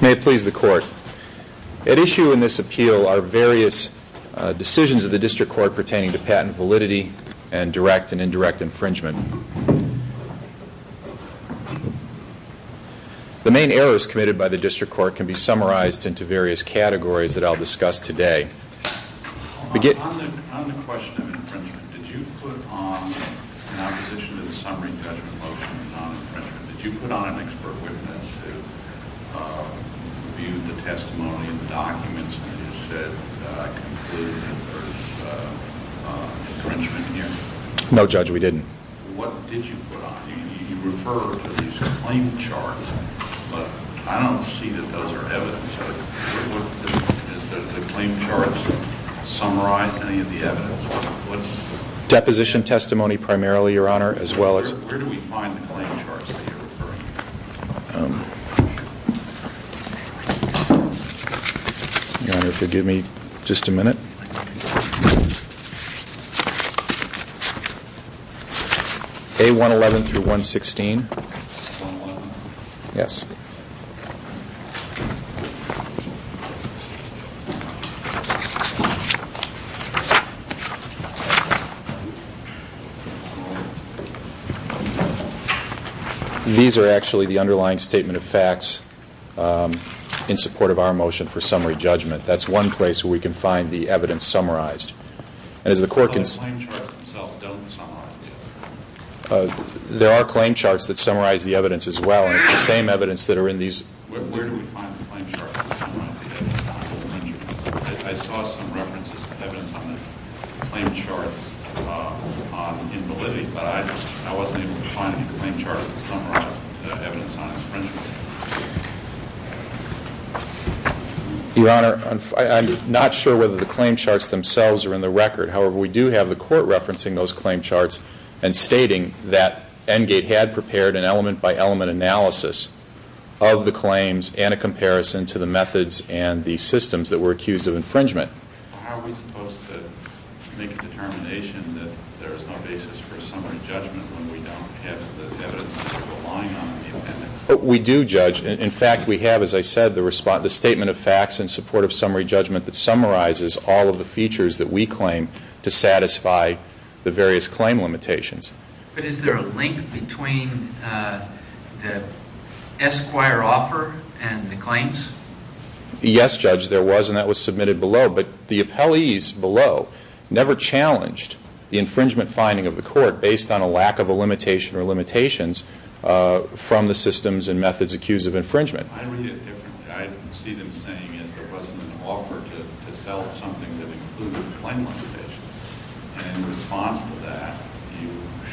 May it please the Court, at issue in this appeal are various decisions of the District Court pertaining to patent validity and direct and indirect infringement. The main errors committed by the District Court can be summarized into various categories that I'll discuss today. On the question of infringement, did you put on, in opposition to the summary judgment motion on infringement, did you put on an expert witness who viewed the testimony and the documents and said, I conclude that there's infringement here? No Judge, we didn't. What did you put on? You referred to these claim charts, but I don't see that those are evidence. Does the claim charts summarize any of the evidence? Deposition testimony primarily, Your Honor, as well as... Where do we find the claim charts that you're referring to? Your Honor, if you'll give me just a minute. A111 through 116. 111? Yes. These are actually the underlying statement of facts in support of our motion for summary judgment. That's one place where we can find the evidence summarized. But the claim charts themselves don't summarize the evidence. There are claim charts that summarize the evidence as well, and it's the same evidence that are in these... Where do we find the claim charts that summarize the evidence on infringement? I saw some references of evidence on the claim charts in validity, but I wasn't able to find any claim charts that summarized the evidence on infringement. Your Honor, I'm not sure whether the claim charts themselves are in the record. However, we do have the Court referencing those claim charts and stating that Engate had prepared an element-by-element analysis of the claims and a comparison to the methods and the systems that were accused of infringement. How are we supposed to make a determination that there is no basis for summary judgment when we don't have the evidence that we're relying on? We do judge. In fact, we have, as I said, the statement of facts in support of summary judgment that summarizes all of the features that we claim to satisfy the various claim limitations. But is there a link between the Esquire offer and the claims? Yes, Judge, there was, and that was submitted below. But the appellees below never challenged the infringement finding of the Court based on a lack of a limitation or limitations from the systems and methods accused of infringement. I read it differently. I see them saying there wasn't an offer to sell something that included claim limitations. And in response to that, you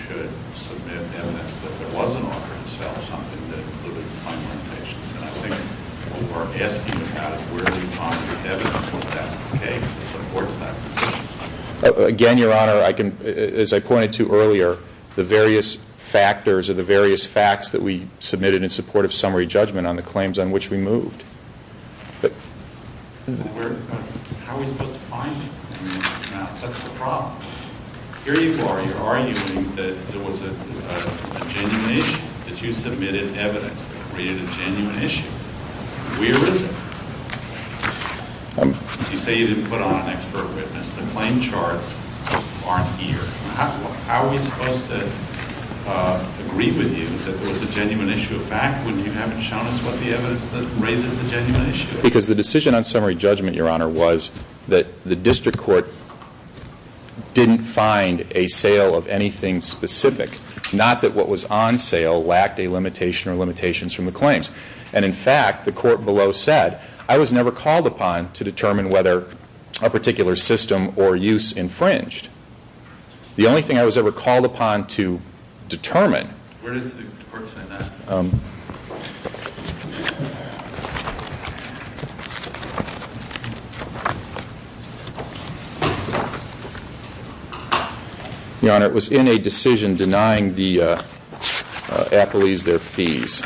should submit evidence that there was an offer to sell something that included claim limitations. And I think what we're asking about is where do we find the evidence that that's the case that supports that position? Again, Your Honor, as I pointed to earlier, the various factors or the various facts that we submitted in support of summary judgment on the claims on which we moved. How are we supposed to find it? That's the problem. Here you are. You're arguing that there was a genuine issue, that you submitted evidence that created a genuine issue. Where is it? You say you didn't put on an expert witness. The claim charts aren't here. How are we supposed to agree with you that there was a genuine issue of fact when you haven't shown us what the evidence that raises the genuine issue is? Because the decision on summary judgment, Your Honor, was that the district court didn't find a sale of anything specific, not that what was on sale lacked a limitation or limitations from the claims. And, in fact, the court below said, I was never called upon to determine whether a particular system or use infringed. The only thing I was ever called upon to determine. Where does the court say that? Your Honor, it was in a decision denying the appellees their fees.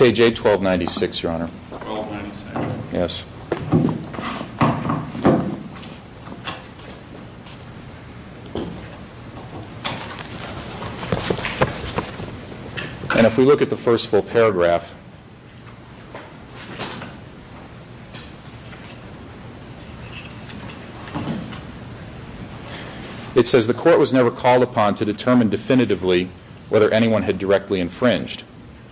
I need Your Honor. It's page 81296, Your Honor. And if we look at the first full paragraph, it says the court was never called upon to determine definitively whether anyone had directly infringed.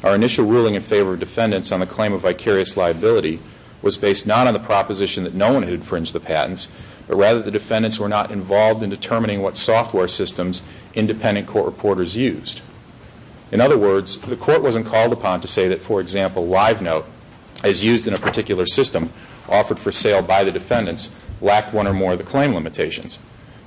Our initial ruling in favor of defendants on the claim of vicarious liability was based not on the proposition that no one had infringed the patents, but rather the defendants were not involved in determining what software systems independent court reporters used. In other words, the court wasn't called upon to say that, for example, LiveNote, as used in a particular system offered for sale by the defendants, lacked one or more of the claim limitations.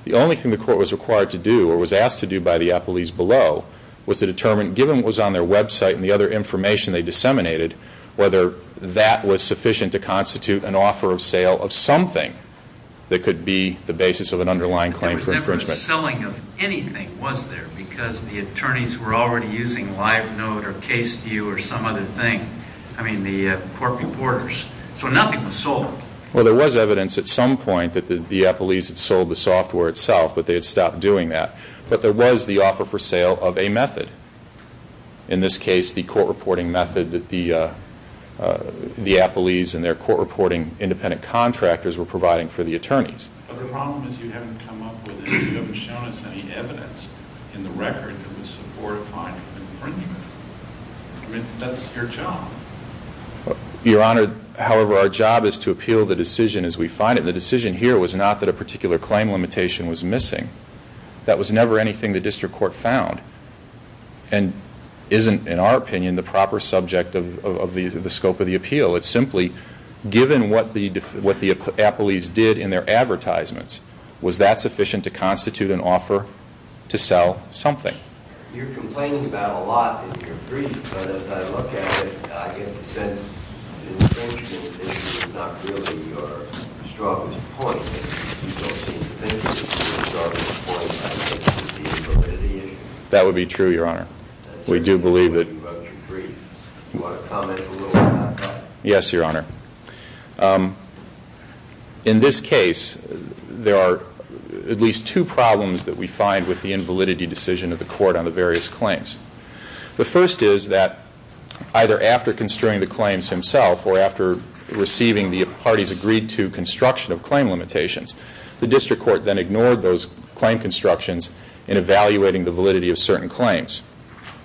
The only thing the court was required to do or was asked to do by the appellees below was to determine, given what was on their website and the other information they disseminated, whether that was sufficient to constitute an offer of sale of something that could be the basis of an underlying claim for infringement. There was never a selling of anything, was there, because the attorneys were already using LiveNote or CaseView or some other thing, I mean the court reporters. So nothing was sold. Well, there was evidence at some point that the appellees had sold the software itself, but they had stopped doing that. But there was the offer for sale of a method. In this case, the court reporting method that the appellees and their court reporting independent contractors were providing for the attorneys. Your Honor, however, our job is to appeal the decision as we find it. The decision here was not that a particular claim limitation was missing. That was never anything the district court found and isn't, in our opinion, the proper subject of the scope of the appeal. It's simply, given what the appellees did in their advertisements, was that sufficient to constitute an offer to sell something? You're complaining about a lot in your brief, but as I look at it, I get the sense the infringement issue is not really your strongest point. You don't seem to think the infringement issue is our strongest point as opposed to the invalidity issue. That would be true, Your Honor. We do believe that. That's what you're saying about your brief. Do you want to comment a little on that? Yes, Your Honor. In this case, there are at least two problems that we find with the invalidity decision of the court on the various claims. The first is that either after construing the claims himself or after receiving the parties' agreed-to construction of claim limitations, the district court then ignored those claim constructions in evaluating the validity of certain claims.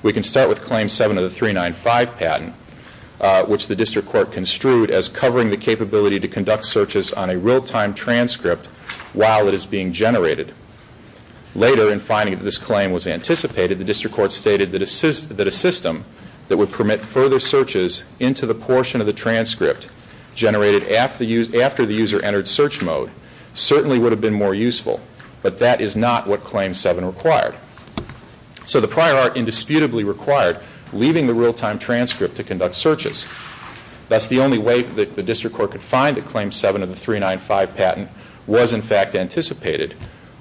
We can start with Claim 7 of the 395 patent, which the district court construed as covering the capability to conduct searches on a real-time transcript while it is being generated. Later, in finding that this claim was anticipated, the district court stated that a system that would permit further searches into the portion of the transcript generated after the user entered search mode certainly would have been more useful, but that is not what Claim 7 required. So the prior art indisputably required leaving the real-time transcript to conduct searches. Thus, the only way that the district court could find that Claim 7 of the 395 patent was in fact anticipated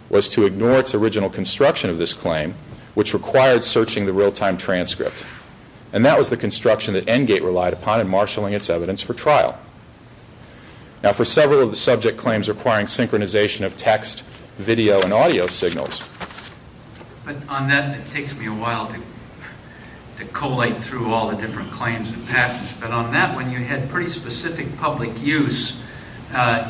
was to ignore its original construction of this claim, which required searching the real-time transcript. And that was the construction that Engate relied upon in marshalling its evidence for trial. Now, for several of the subject claims requiring synchronization of text, video, and audio signals... But on that, it takes me a while to collate through all the different claims and patents, but on that one you had pretty specific public use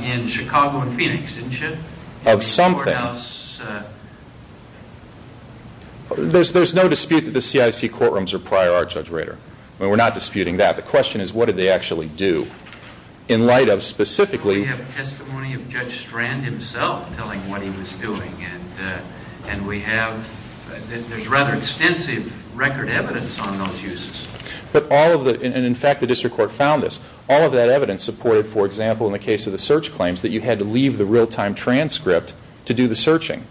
in Chicago and Phoenix, didn't you? Of some things. Well, there's no dispute that the CIC courtrooms are prior art, Judge Rader. We're not disputing that. The question is what did they actually do in light of specifically... We have testimony of Judge Strand himself telling what he was doing, and there's rather extensive record evidence on those uses. In fact, the district court found this. All of that evidence supported, for example, in the case of the search claims, that you had to leave the real-time transcript to do the searching.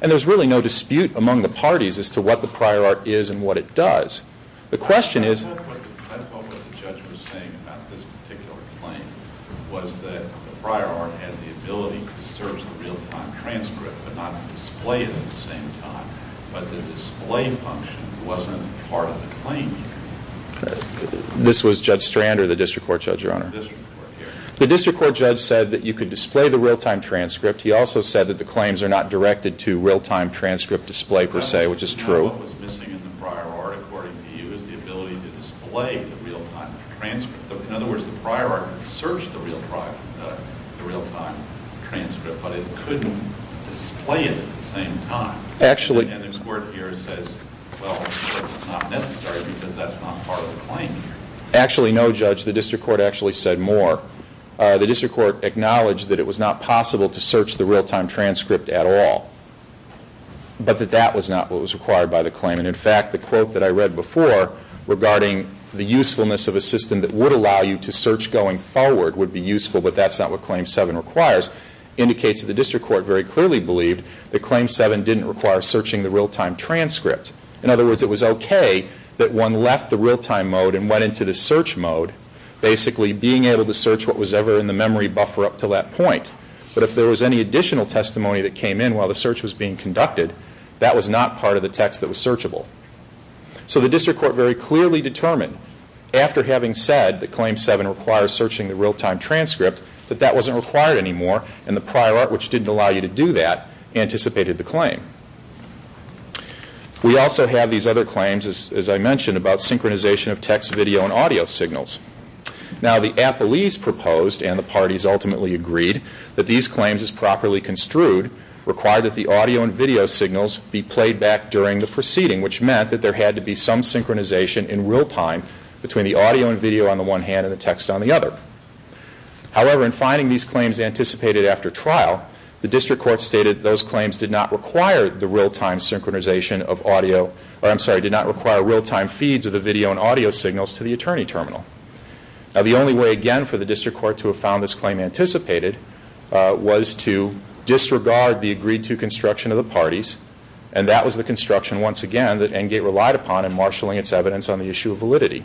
And there's really no dispute among the parties as to what the prior art is and what it does. The question is... I thought what the judge was saying about this particular claim was that the prior art had the ability to search the real-time transcript, but not display it at the same time. But the display function wasn't part of the claim. This was Judge Strand or the district court judge, Your Honor? The district court, yes. The district court judge said that you could display the real-time transcript. He also said that the claims are not directed to real-time transcript display per se, which is true. What was missing in the prior art, according to you, is the ability to display the real-time transcript. In other words, the prior art could search the real-time transcript, but it couldn't display it at the same time. Actually... And the court here says, well, that's not necessary because that's not part of the claim here. Actually, no, Judge. The district court actually said more. The district court acknowledged that it was not possible to search the real-time transcript at all, but that that was not what was required by the claim. And, in fact, the quote that I read before regarding the usefulness of a system that would allow you to search going forward would be useful, but that's not what Claim 7 requires, indicates that the district court very clearly believed that Claim 7 didn't require searching the real-time transcript. In other words, it was okay that one left the real-time mode and went into the search mode, basically being able to search what was ever in the memory buffer up to that point, but if there was any additional testimony that came in while the search was being conducted, that was not part of the text that was searchable. So the district court very clearly determined, after having said that Claim 7 requires searching the real-time transcript, that that wasn't required anymore, and the prior art, which didn't allow you to do that, anticipated the claim. We also have these other claims, as I mentioned, about synchronization of text, video, and audio signals. Now, the appellees proposed, and the parties ultimately agreed, that these claims, as properly construed, required that the audio and video signals be played back during the proceeding, which meant that there had to be some synchronization in real-time between the audio and video on the one hand and the text on the other. However, in finding these claims anticipated after trial, the district court stated those claims did not require the real-time synchronization of audio, or I'm sorry, did not require real-time feeds of the video and audio signals to the attorney terminal. Now, the only way, again, for the district court to have found this claim anticipated was to disregard the agreed-to construction of the parties, and that was the construction, once again, that Engate relied upon in marshalling its evidence on the issue of validity.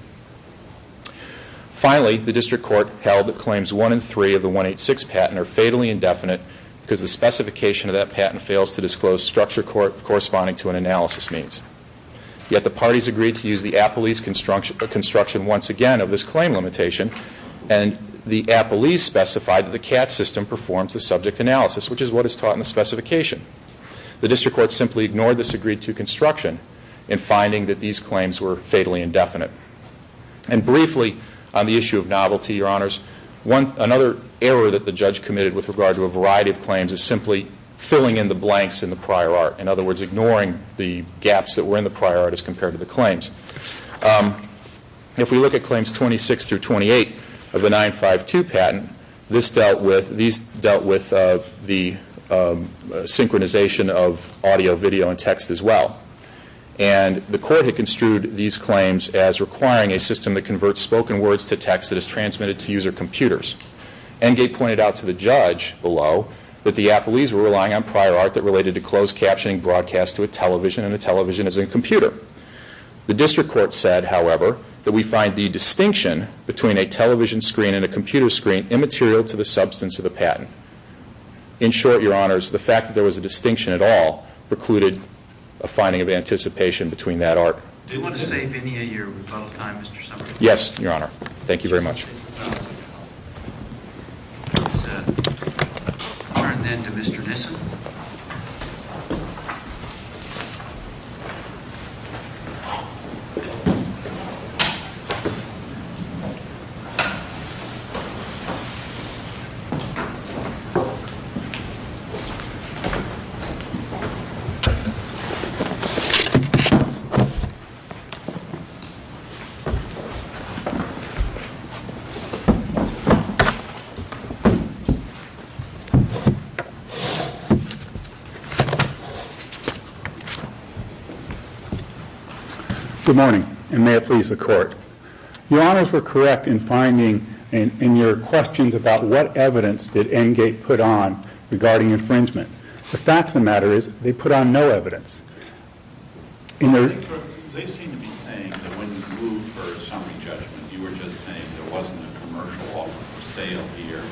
Finally, the district court held that Claims 1 and 3 of the 186 patent are fatally indefinite because the specification of that patent fails to disclose structure corresponding to an analysis means. Yet the parties agreed to use the appellees' construction, once again, of this claim limitation, and the appellees specified that the CAT system performs the subject analysis, which is what is taught in the specification. The district court simply ignored this agreed-to construction in finding that these claims were fatally indefinite. And briefly, on the issue of novelty, Your Honors, another error that the judge committed with regard to a variety of claims is simply filling in the blanks in the prior art. In other words, ignoring the gaps that were in the prior art as compared to the claims. If we look at Claims 26 through 28 of the 952 patent, these dealt with the synchronization of audio, video, and text as well. And the court had construed these claims as requiring a system that converts spoken words to text that is transmitted to user computers. Engate pointed out to the judge below that the appellees were relying on prior art that related to closed captioning broadcast to a television, and the television is a computer. The district court said, however, that we find the distinction between a television screen and a computer screen immaterial to the substance of the patent. In short, Your Honors, the fact that there was a distinction at all precluded a finding of anticipation between that art. Do you want to save any of your rebuttal time, Mr. Summers? Yes, Your Honor. Thank you very much. Let's turn then to Mr. Nissen. Good morning, and may it please the court. Your Honors were correct in finding in your questions about what evidence did Engate put on regarding infringement. The fact of the matter is they put on no evidence. They seem to be saying that when you moved for a summary judgment, you were just saying there wasn't a commercial offer for sale here,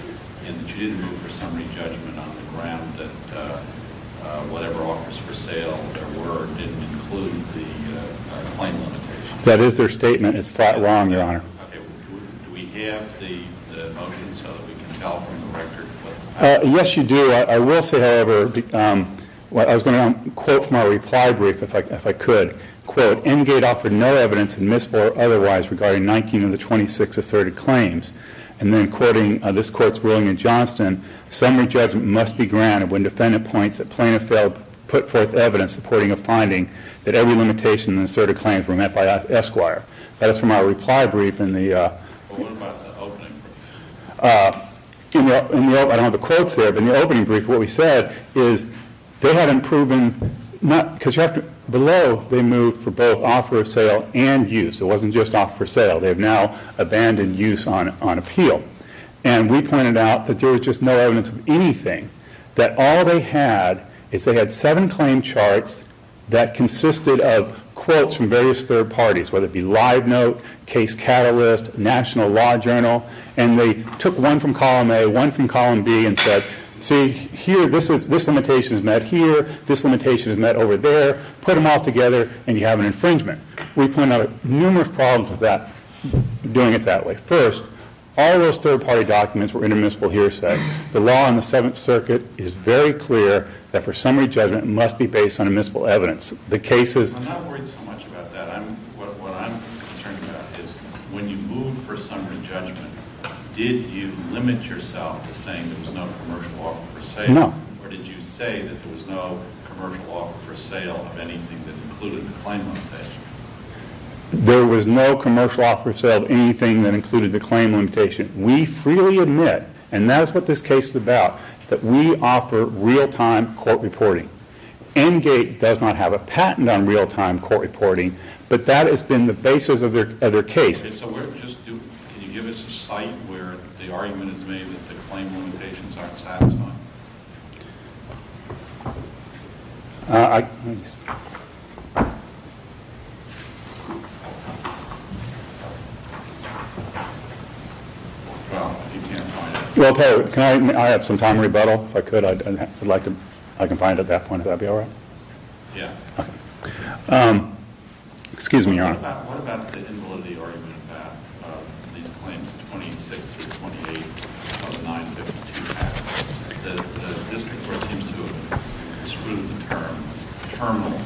and that you didn't move for a summary judgment on the ground that whatever offers for sale there were didn't include the claim limitations. That is their statement. It's flat wrong, Your Honor. Do we have the motion so that we can tell from the record? Yes, you do. I will say, however, I was going to quote from our reply brief, if I could. Quote, Engate offered no evidence, admissible or otherwise, regarding 19 of the 26 asserted claims. And then, quoting this court's ruling in Johnston, summary judgment must be granted when defendant points that Plano failed to put forth evidence supporting a finding that every limitation in the asserted claims were met by Esquire. That is from our reply brief. What about the opening? I don't have the quotes there, but in the opening brief, what we said is they haven't proven, because you have to, below they moved for both offer of sale and use. It wasn't just offer of sale. They have now abandoned use on appeal. And we pointed out that there was just no evidence of anything, that all they had is they had seven claim charts that consisted of quotes from various third parties, whether it be Live Note, Case Catalyst, National Law Journal, and they took one from column A, one from column B, and said, see, here, this limitation is met here. This limitation is met over there. Put them all together, and you have an infringement. We pointed out numerous problems with that, doing it that way. First, all those third-party documents were in admissible hearsay. The law in the Seventh Circuit is very clear that for summary judgment must be based on admissible evidence. The case is- I'm not worried so much about that. What I'm concerned about is when you move for summary judgment, did you limit yourself to saying there was no commercial offer for sale? No. Or did you say that there was no commercial offer for sale of anything that included the claim limitation? There was no commercial offer for sale of anything that included the claim limitation. We freely admit, and that is what this case is about, that we offer real-time court reporting. Engate does not have a patent on real-time court reporting, but that has been the basis of their case. Can you give us a site where the argument is made that the claim limitations aren't satisfying? Well, I'll tell you what. Can I have some time to rebuttal? If I could, I'd like to- I can find it at that point. Would that be all right? Yeah. Okay. Excuse me, Your Honor. What about the invalidity argument about these claims 26 through 28 of 952? The district court seems to have disproved the term terminal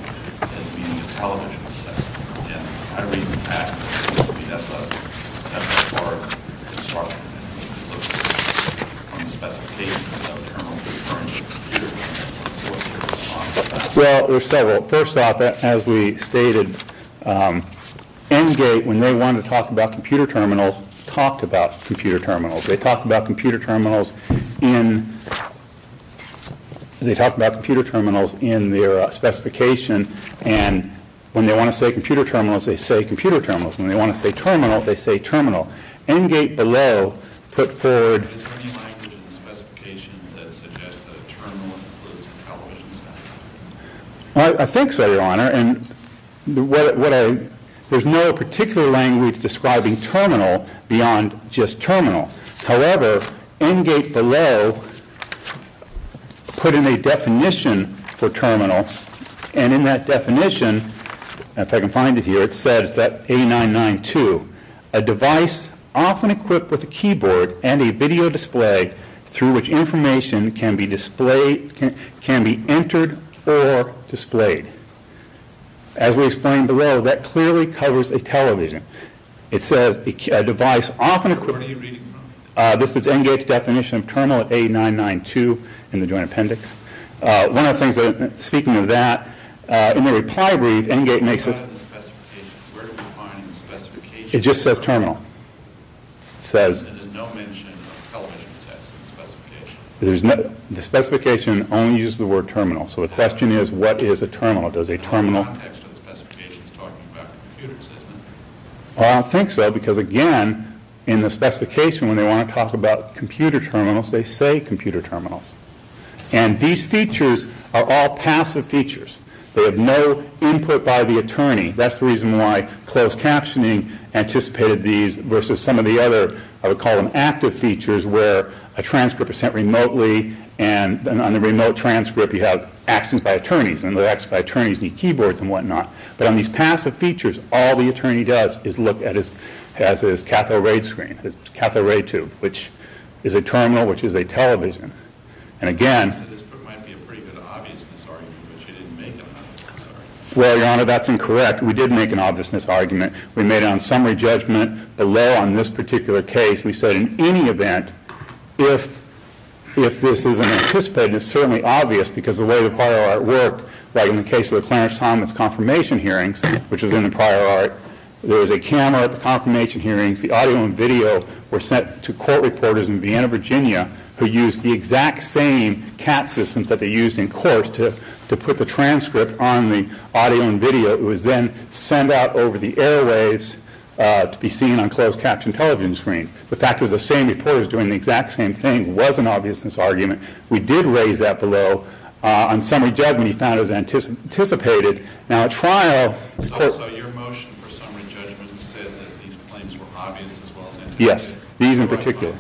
as being a television set. Yeah. I read in the past that that's a- that's a far- that's far from the specification of a terminal. Well, there's several. First off, as we stated, Engate, when they wanted to talk about computer terminals, talked about computer terminals. They talked about computer terminals in- they talked about computer terminals in their specification, and when they want to say computer terminals, they say computer terminals. When they want to say terminal, they say terminal. Engate below put forward- Is there any language in the specification that suggests that a terminal includes a television set? I think so, Your Honor, and what I- there's no particular language describing terminal beyond just terminal. However, Engate below put in a definition for terminal, and in that definition, if I can find it here, it says that A992, a device often equipped with a keyboard and a video display through which information can be displayed- can be entered or displayed. As we explained below, that clearly covers a television. It says a device often equipped- What are you reading, Your Honor? This is Engate's definition of terminal at A992 in the joint appendix. One of the things that- speaking of that, in the reply brief, Engate makes a- What about the specification? Where do we find the specification? It just says terminal. It says- There's no mention of television sets in the specification. The specification only uses the word terminal, so the question is, what is a terminal? Does a terminal- In the context of the specification, it's talking about computers, isn't it? I don't think so, because again, in the specification, when they want to talk about computer terminals, they say computer terminals. And these features are all passive features. They have no input by the attorney. That's the reason why closed captioning anticipated these versus some of the other- I would call them active features, where a transcript is sent remotely, and on the remote transcript, you have actions by attorneys, and the actions by attorneys need keyboards and whatnot. But on these passive features, all the attorney does is look at his- has his cathode ray screen, his cathode ray tube, which is a terminal, which is a television. And again- You said this might be a pretty good obviousness argument, but you didn't make an obviousness argument. Well, Your Honor, that's incorrect. We did make an obviousness argument. We made it on summary judgment. The law on this particular case, we said in any event, if this isn't anticipated, it's certainly obvious, because the way the prior art worked, like in the case of the Clarence Thomas confirmation hearings, which was in the prior art, there was a camera at the confirmation hearings. The audio and video were sent to court reporters in Vienna, Virginia, who used the exact same CAT systems that they used in court to put the transcript on the audio and video. It was then sent out over the airwaves to be seen on closed caption television screens. The fact it was the same reporters doing the exact same thing was an obviousness argument. We did raise that below. On summary judgment, we found it was anticipated. Now, at trial- So your motion for summary judgment said that these claims were obvious as well as anticipated? Yes. These in particular.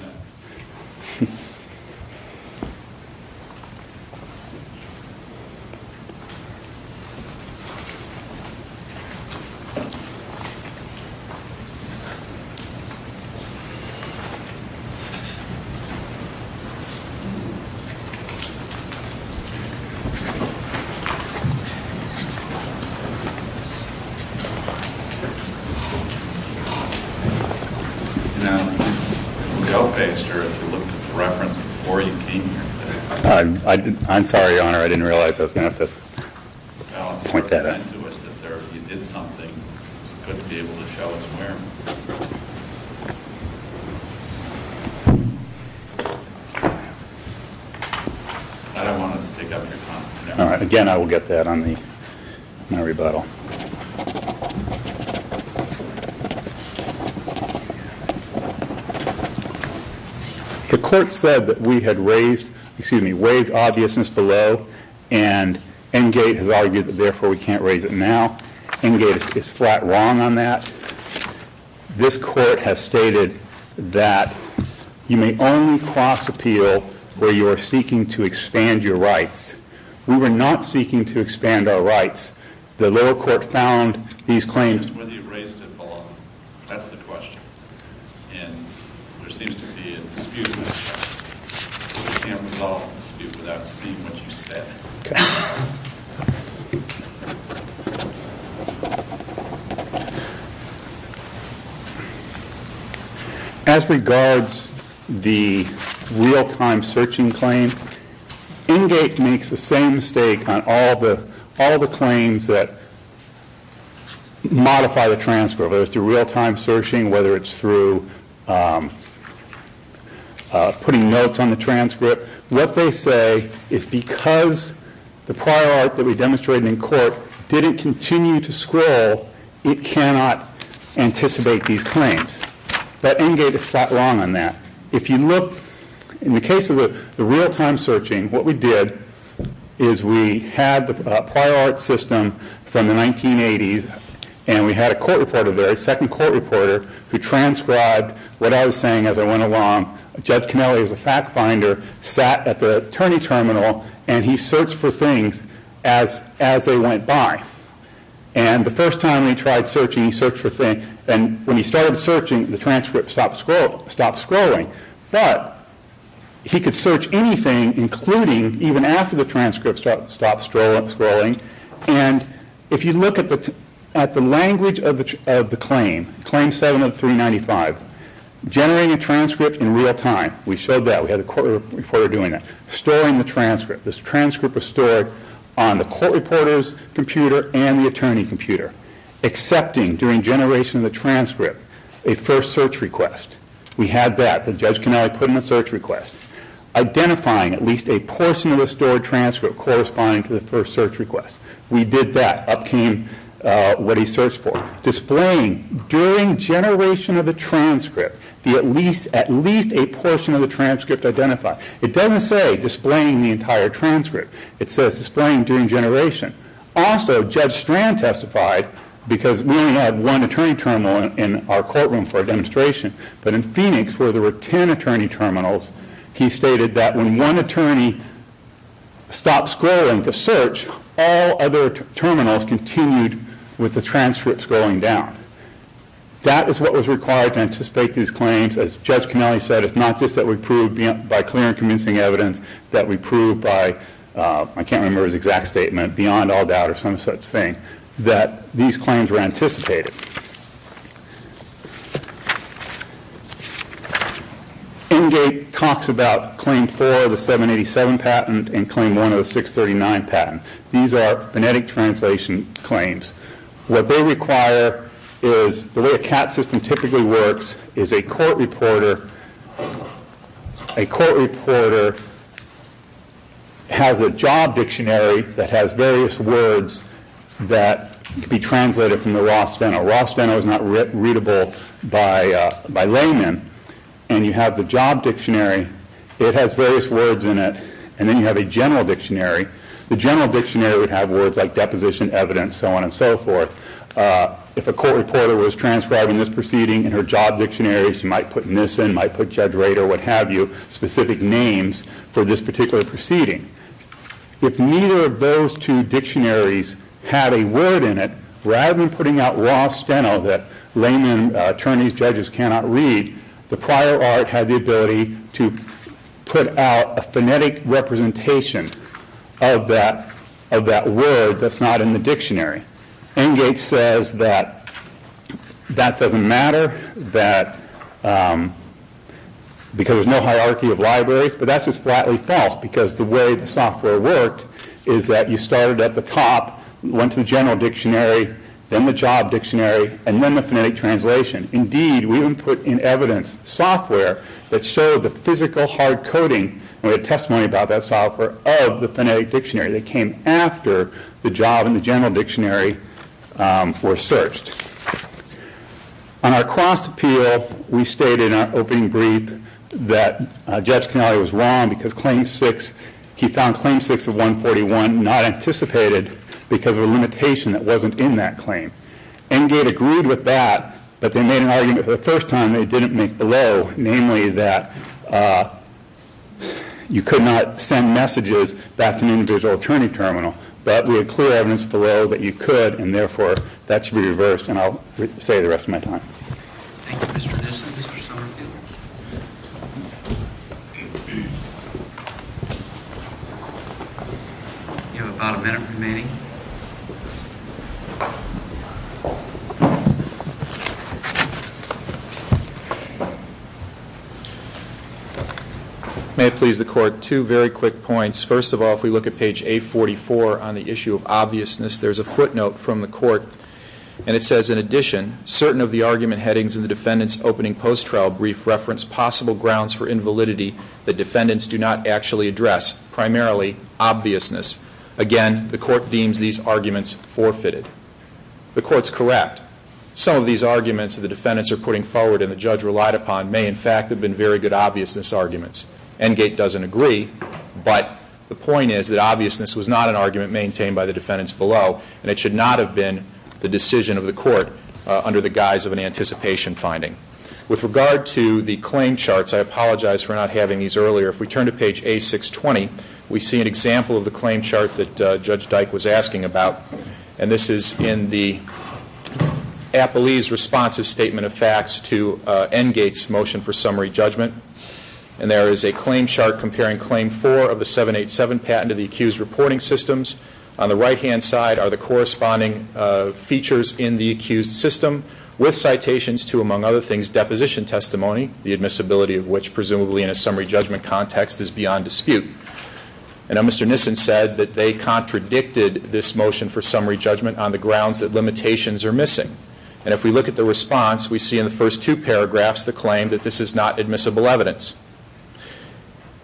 I'm sorry, Your Honor. I didn't realize I was going to have to point that out. Again, I will get that on my rebuttal. The court said that we had raised, excuse me, waived obviousness below, and Engate has argued that therefore we can't raise it now. Engate is flat wrong on that. This court has stated that you may only cross appeal where you are seeking to expand your rights. We were not seeking to expand our rights. The lower court found these claims- Whether you raised it below. That's the question. And there seems to be a dispute. We can't resolve the dispute without seeing what you said. Okay. As regards the real-time searching claim, Engate makes the same mistake on all the claims that modify the transcript. Whether it's through real-time searching, whether it's through putting notes on the transcript. What they say is because the prior art that we demonstrated in court didn't continue to scroll, it cannot anticipate these claims. But Engate is flat wrong on that. If you look, in the case of the real-time searching, what we did is we had the prior art system from the 1980s, and we had a court reporter there, a second court reporter, who transcribed what I was saying as I went along. Judge Kennelly is a fact finder, sat at the attorney terminal, and he searched for things as they went by. And the first time he tried searching, he searched for things. And when he started searching, the transcript stopped scrolling. But he could search anything, including even after the transcript stopped scrolling. And if you look at the language of the claim, Claim 7 of 395, generating a transcript in real-time. We showed that. We had a court reporter doing that. Storing the transcript. This transcript was stored on the court reporter's computer and the attorney computer. Accepting during generation of the transcript a first search request. We had that. Judge Kennelly put in a search request. Identifying at least a portion of the stored transcript corresponding to the first search request. We did that. Up came what he searched for. Displaying during generation of the transcript at least a portion of the transcript identified. It doesn't say displaying the entire transcript. It says displaying during generation. Also, Judge Strand testified, because we only had one attorney terminal in our courtroom for our demonstration, but in Phoenix, where there were 10 attorney terminals, he stated that when one attorney stopped scrolling to search, all other terminals continued with the transcripts going down. That is what was required to anticipate these claims. As Judge Kennelly said, it's not just that we proved by clear and convincing evidence that we proved by, I can't remember his exact statement, that these claims were anticipated. Engate talks about Claim 4 of the 787 patent and Claim 1 of the 639 patent. These are phonetic translation claims. What they require is the way a CAT system typically works is a court reporter has a job dictionary that has various words that can be translated from the raw steno. Raw steno is not readable by laymen. And you have the job dictionary. It has various words in it. And then you have a general dictionary. The general dictionary would have words like deposition, evidence, so on and so forth. If a court reporter was transcribing this proceeding in her job dictionary, she might put Nissen, might put Judge Rader, what have you, specific names for this particular proceeding. If neither of those two dictionaries had a word in it, rather than putting out raw steno that laymen, attorneys, judges cannot read, the prior art had the ability to put out a phonetic representation of that word that's not in the dictionary. Engate says that that doesn't matter because there's no hierarchy of libraries, but that's just flatly false because the way the software worked is that you started at the top, went to the general dictionary, then the job dictionary, and then the phonetic translation. Indeed, we even put in evidence software that showed the physical hard coding and the testimony about that software of the phonetic dictionary that came after the job and the general dictionary were searched. On our cross appeal, we stated in our opening brief that Judge Canale was wrong because he found Claim 6 of 141 not anticipated because of a limitation that wasn't in that claim. Engate agreed with that, but they made an argument for the first time they didn't make below, namely that you could not send messages back to an individual attorney terminal, but we had clear evidence below that you could, and therefore, that should be reversed, and I'll say the rest of my time. Thank you, Mr. Nesson. Mr. Scornfield. You have about a minute remaining. May it please the Court, two very quick points. First of all, if we look at page 844 on the issue of obviousness, there's a footnote from the Court, and it says, in addition, certain of the argument headings in the defendant's opening post-trial brief reference possible grounds for invalidity that defendants do not actually address, primarily obviousness. Again, the Court deems these arguments forfeited. The Court's correct. Some of these arguments that the defendants are putting forward and the Judge relied upon may, in fact, have been very good obviousness arguments. Engate doesn't agree, but the point is that obviousness was not an argument maintained by the defendants below, and it should not have been the decision of the Court under the guise of an anticipation finding. With regard to the claim charts, I apologize for not having these earlier. If we turn to page A620, we see an example of the claim chart that Judge Dyke was asking about, and this is in the appellee's responsive statement of facts to Engate's motion for summary judgment. And there is a claim chart comparing Claim 4 of the 787 patent to the accused's reporting systems. On the right-hand side are the corresponding features in the accused's system, with citations to, among other things, deposition testimony, the admissibility of which, presumably in a summary judgment context, is beyond dispute. And now Mr. Nissen said that they contradicted this motion for summary judgment on the grounds that limitations are missing. And if we look at the response, we see in the first two paragraphs the claim that this is not admissible evidence.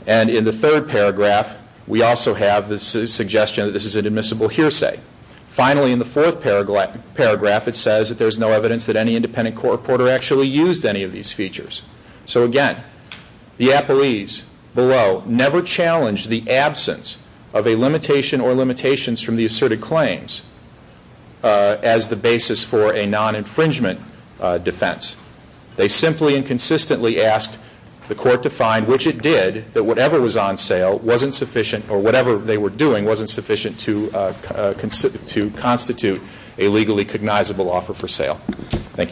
And in the third paragraph, we also have the suggestion that this is an admissible hearsay. Finally, in the fourth paragraph, it says that there is no evidence that any independent court reporter actually used any of these features. So again, the appellees below never challenged the absence of a limitation or limitations from the asserted claims as the basis for a non-infringement defense. They simply and consistently asked the court to find, which it did, that whatever was on sale wasn't sufficient, or whatever they were doing wasn't sufficient to constitute a legally cognizable offer for sale. Thank you.